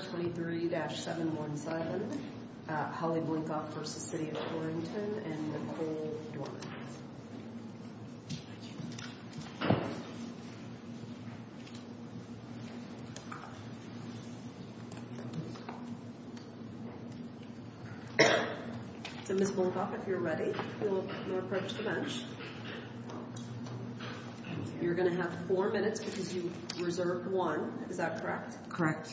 23-71 Silent, Holly Blinkoff v. City of Torrington, and Nicole Dorman. So, Ms. Blinkoff, if you're ready, we'll approach the bench. You're going to have four minutes because you reserved one. Is that correct? Correct.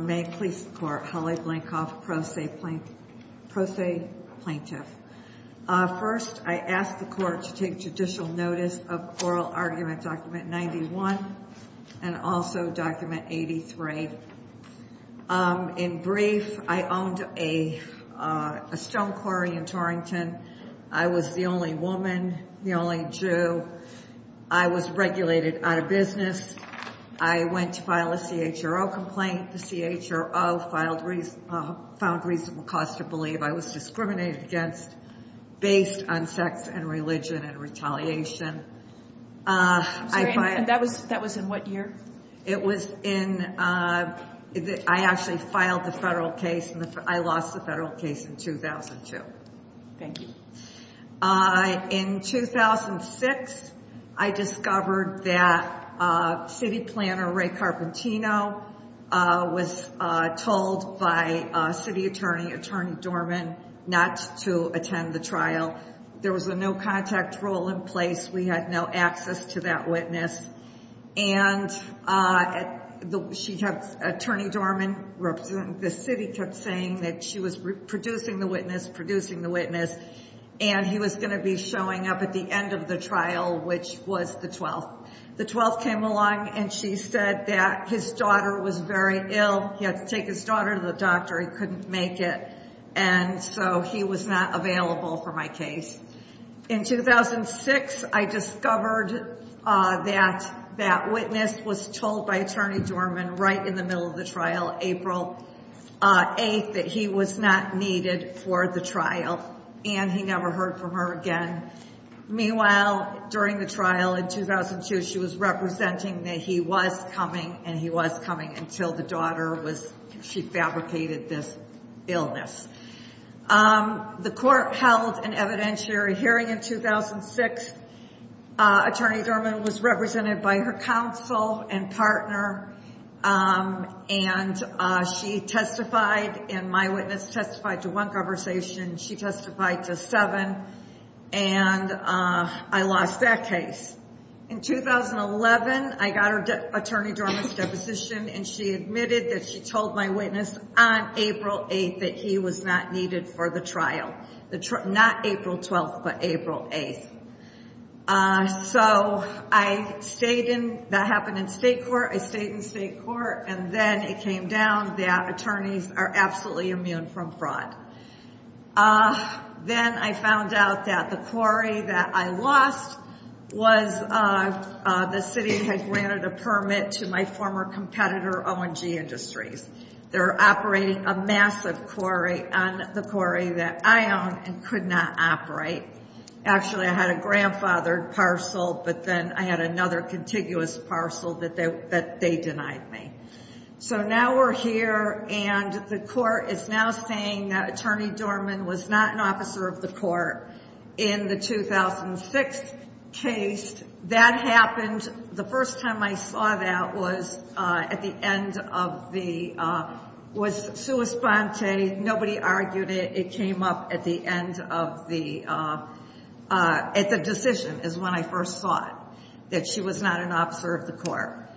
May it please the Court, Holly Blinkoff, pro se plaintiff. First, I ask the Court to take judicial notice of Oral Argument Document 91 and also Document 83. In brief, I owned a stone quarry in Torrington. I was the only woman, the only Jew. I was regulated out of business. I went to file a CHRO complaint. The CHRO found reasonable cause to believe I was discriminated against based on sex and religion and retaliation. And that was in what year? I actually filed the federal case. I lost the federal case in 2002. Thank you. In 2006, I discovered that City Planner Ray Carpentino was told by City Attorney, Attorney Dorman, not to attend the trial. There was a no-contact rule in place. We had no access to that witness. And Attorney Dorman, the city, kept saying that she was producing the witness, producing the witness, and he was going to be showing up at the end of the trial, which was the 12th. The 12th came along and she said that his daughter was very ill. He had to take his daughter to the doctor. He couldn't make it. And so he was not available for my case. In 2006, I discovered that that witness was told by Attorney Dorman right in the middle of the trial, April 8th, that he was not needed for the trial and he never heard from her again. Meanwhile, during the trial in 2002, she was representing that he was coming and he was coming until the daughter was, she fabricated this illness. The court held an evidentiary hearing in 2006. Attorney Dorman was represented by her counsel and partner. And she testified and my witness testified to one conversation. She testified to seven. And I lost that case. In 2011, I got Attorney Dorman's deposition and she admitted that she told my witness on April 8th that he was not needed for the trial. Not April 12th, but April 8th. So I stayed in, that happened in state court. I stayed in state court and then it came down that attorneys are absolutely immune from fraud. Then I found out that the quarry that I lost was, the city had granted a permit to my former competitor, O&G Industries. They were operating a massive quarry on the quarry that I owned and could not operate. Actually, I had a grandfathered parcel, but then I had another contiguous parcel that they denied me. So now we're here and the court is now saying that Attorney Dorman was not an officer of the court in the 2006 case. That happened, the first time I saw that was at the end of the, was sua sponte, nobody argued it, it came up at the end of the, at the decision is when I first saw it. That she was not an officer of the court.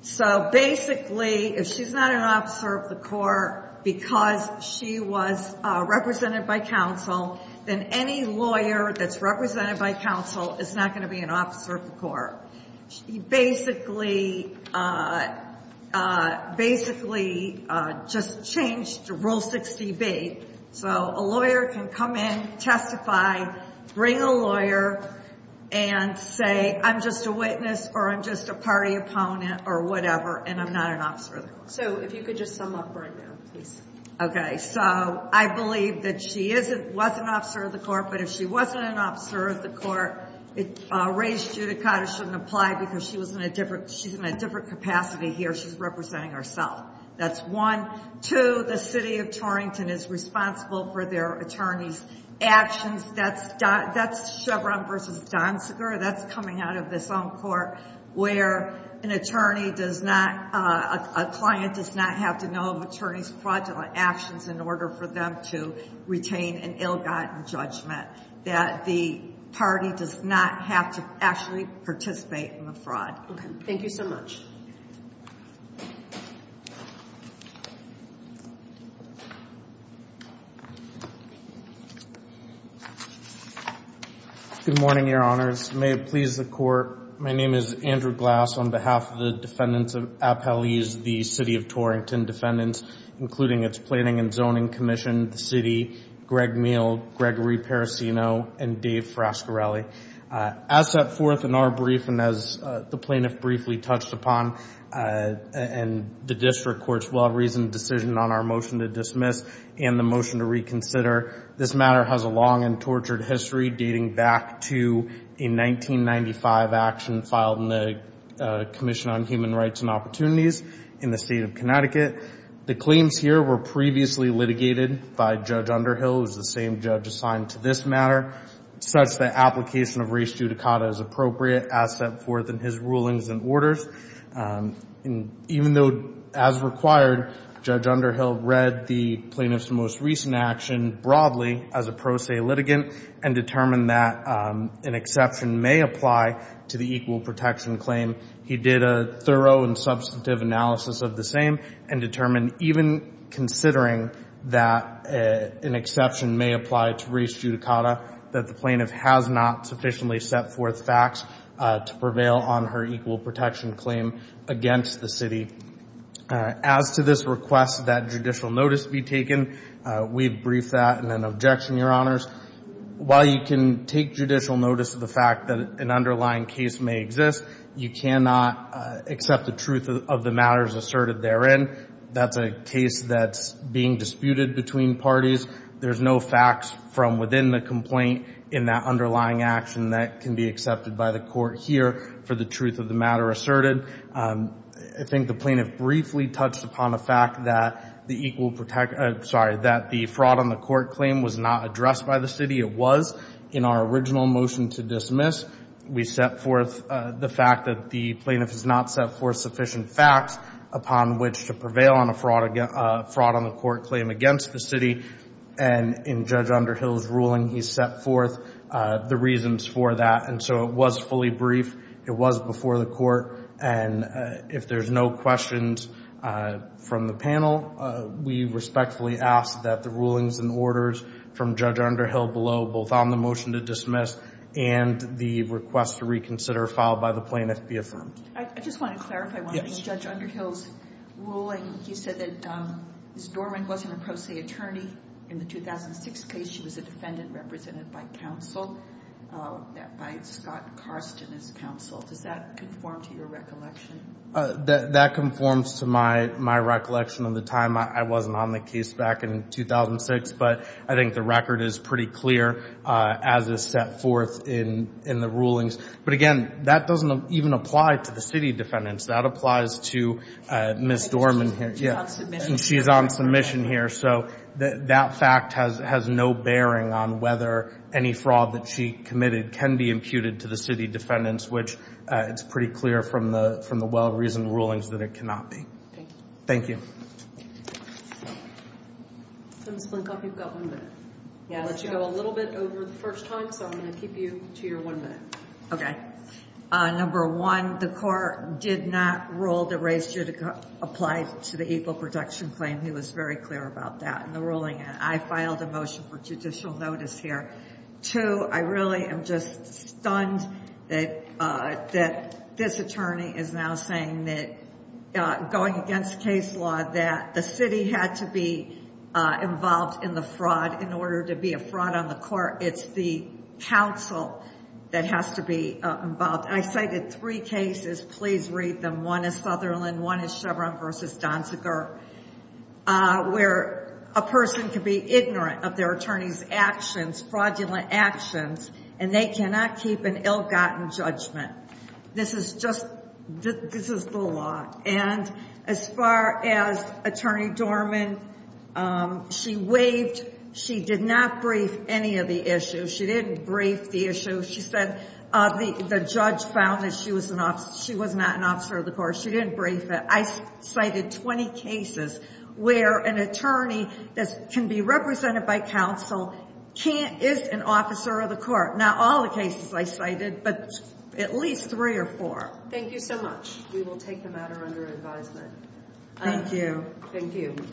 So basically, if she's not an officer of the court because she was represented by counsel, then any lawyer that's represented by counsel is not going to be an officer of the court. She basically, basically just changed rule 60B. So a lawyer can come in, testify, bring a lawyer and say I'm just a witness or I'm just a party opponent or whatever and I'm not an officer of the court. So if you could just sum up right now, please. Okay, so I believe that she is, was an officer of the court, but if she wasn't an officer of the court, it raised judicata shouldn't apply because she was in a different, she's in a different capacity here. She's representing herself. That's one. Two, the city of Torrington is responsible for their attorney's actions. That's Chevron versus Donsiger. That's coming out of this own court where an attorney does not, a client does not have to know of attorney's fraudulent actions in order for them to retain an ill-gotten judgment. That the party does not have to actually participate in the fraud. Okay, thank you so much. Good morning, your honors. May it please the court. My name is Andrew Glass on behalf of the defendants of Appellee's, the city of Torrington defendants, including its planning and zoning commission, the city, Greg Meal, Gregory Parisino, and Dave Frascarelli. As set forth in our brief, and as the plaintiff briefly touched upon, and the district court's well-reasoned decision on our motion to dismiss and the motion to reconsider, this matter has a long and tortured history dating back to a 1995 action filed in the Commission on Human Rights and Opportunities in the state of Connecticut. The claims here were previously litigated by Judge Underhill, who's the same judge assigned to this matter, such that application of res judicata is appropriate as set forth in his rulings and orders. Even though, as required, Judge Underhill read the plaintiff's most recent action broadly as a pro se litigant and determined that an exception may apply to the equal protection claim, he did a thorough and substantive analysis of the same and determined even considering that an exception may apply to res judicata, that the plaintiff has not sufficiently set forth facts to prevail on her equal protection claim. As to this request that judicial notice be taken, we've briefed that in an objection, Your Honors. While you can take judicial notice of the fact that an underlying case may exist, you cannot accept the truth of the matters asserted therein. That's a case that's being disputed between parties. There's no facts from within the complaint in that underlying action that can be accepted by the court here for the truth of the matter asserted. I think the plaintiff briefly touched upon the fact that the fraud on the court claim was not addressed by the city. It was in our original motion to dismiss. We set forth the fact that the plaintiff has not set forth sufficient facts upon which to prevail on a fraud on the court claim against the city. And in Judge Underhill's ruling, he set forth the reasons for that. And so it was fully briefed. It was before the court. And if there's no questions from the panel, we respectfully ask that the rulings and orders from Judge Underhill below, both on the motion to dismiss and the request to reconsider, followed by the plaintiff, be affirmed. I just want to clarify one thing. Judge Underhill's ruling, he said that Ms. Dorman wasn't a pro se attorney in the 2006 case. She was a defendant represented by counsel, by Scott Karsten as counsel. Does that conform to your recollection? That conforms to my recollection of the time I wasn't on the case back in 2006. But I think the record is pretty clear as is set forth in the rulings. But again, that doesn't even apply to the city defendants. That applies to Ms. Dorman here. She's on submission here. So that fact has no bearing on whether any fraud that she committed can be imputed to the city defendants, which it's pretty clear from the well-reasoned rulings that it cannot be. Thank you. Ms. Blinkoff, you've got one minute. I'll let you go a little bit over the first time, so I'm going to keep you to your one minute. Okay. Number one, the court did not rule that race should apply to the equal protection claim. He was very clear about that in the ruling. I filed a motion for judicial notice here. Two, I really am just stunned that this attorney is now saying that going against case law that the city had to be involved in the fraud in order to be a fraud on the court. It's the counsel that has to be involved. I cited three cases. Please read them. One is Sutherland. One is Chevron v. Donziger, where a person can be ignorant of their attorney's actions, fraudulent actions, and they cannot keep an ill-gotten judgment. This is the law. And as far as Attorney Dorman, she waved. She did not brief any of the issues. She didn't brief the issues. She said the judge found that she was not an officer of the court. She didn't brief it. I cited 20 cases where an attorney that can be represented by counsel is an officer of the court. Not all the cases I cited, but at least three or four. Thank you so much. We will take the matter under advisement. Thank you. Thank you.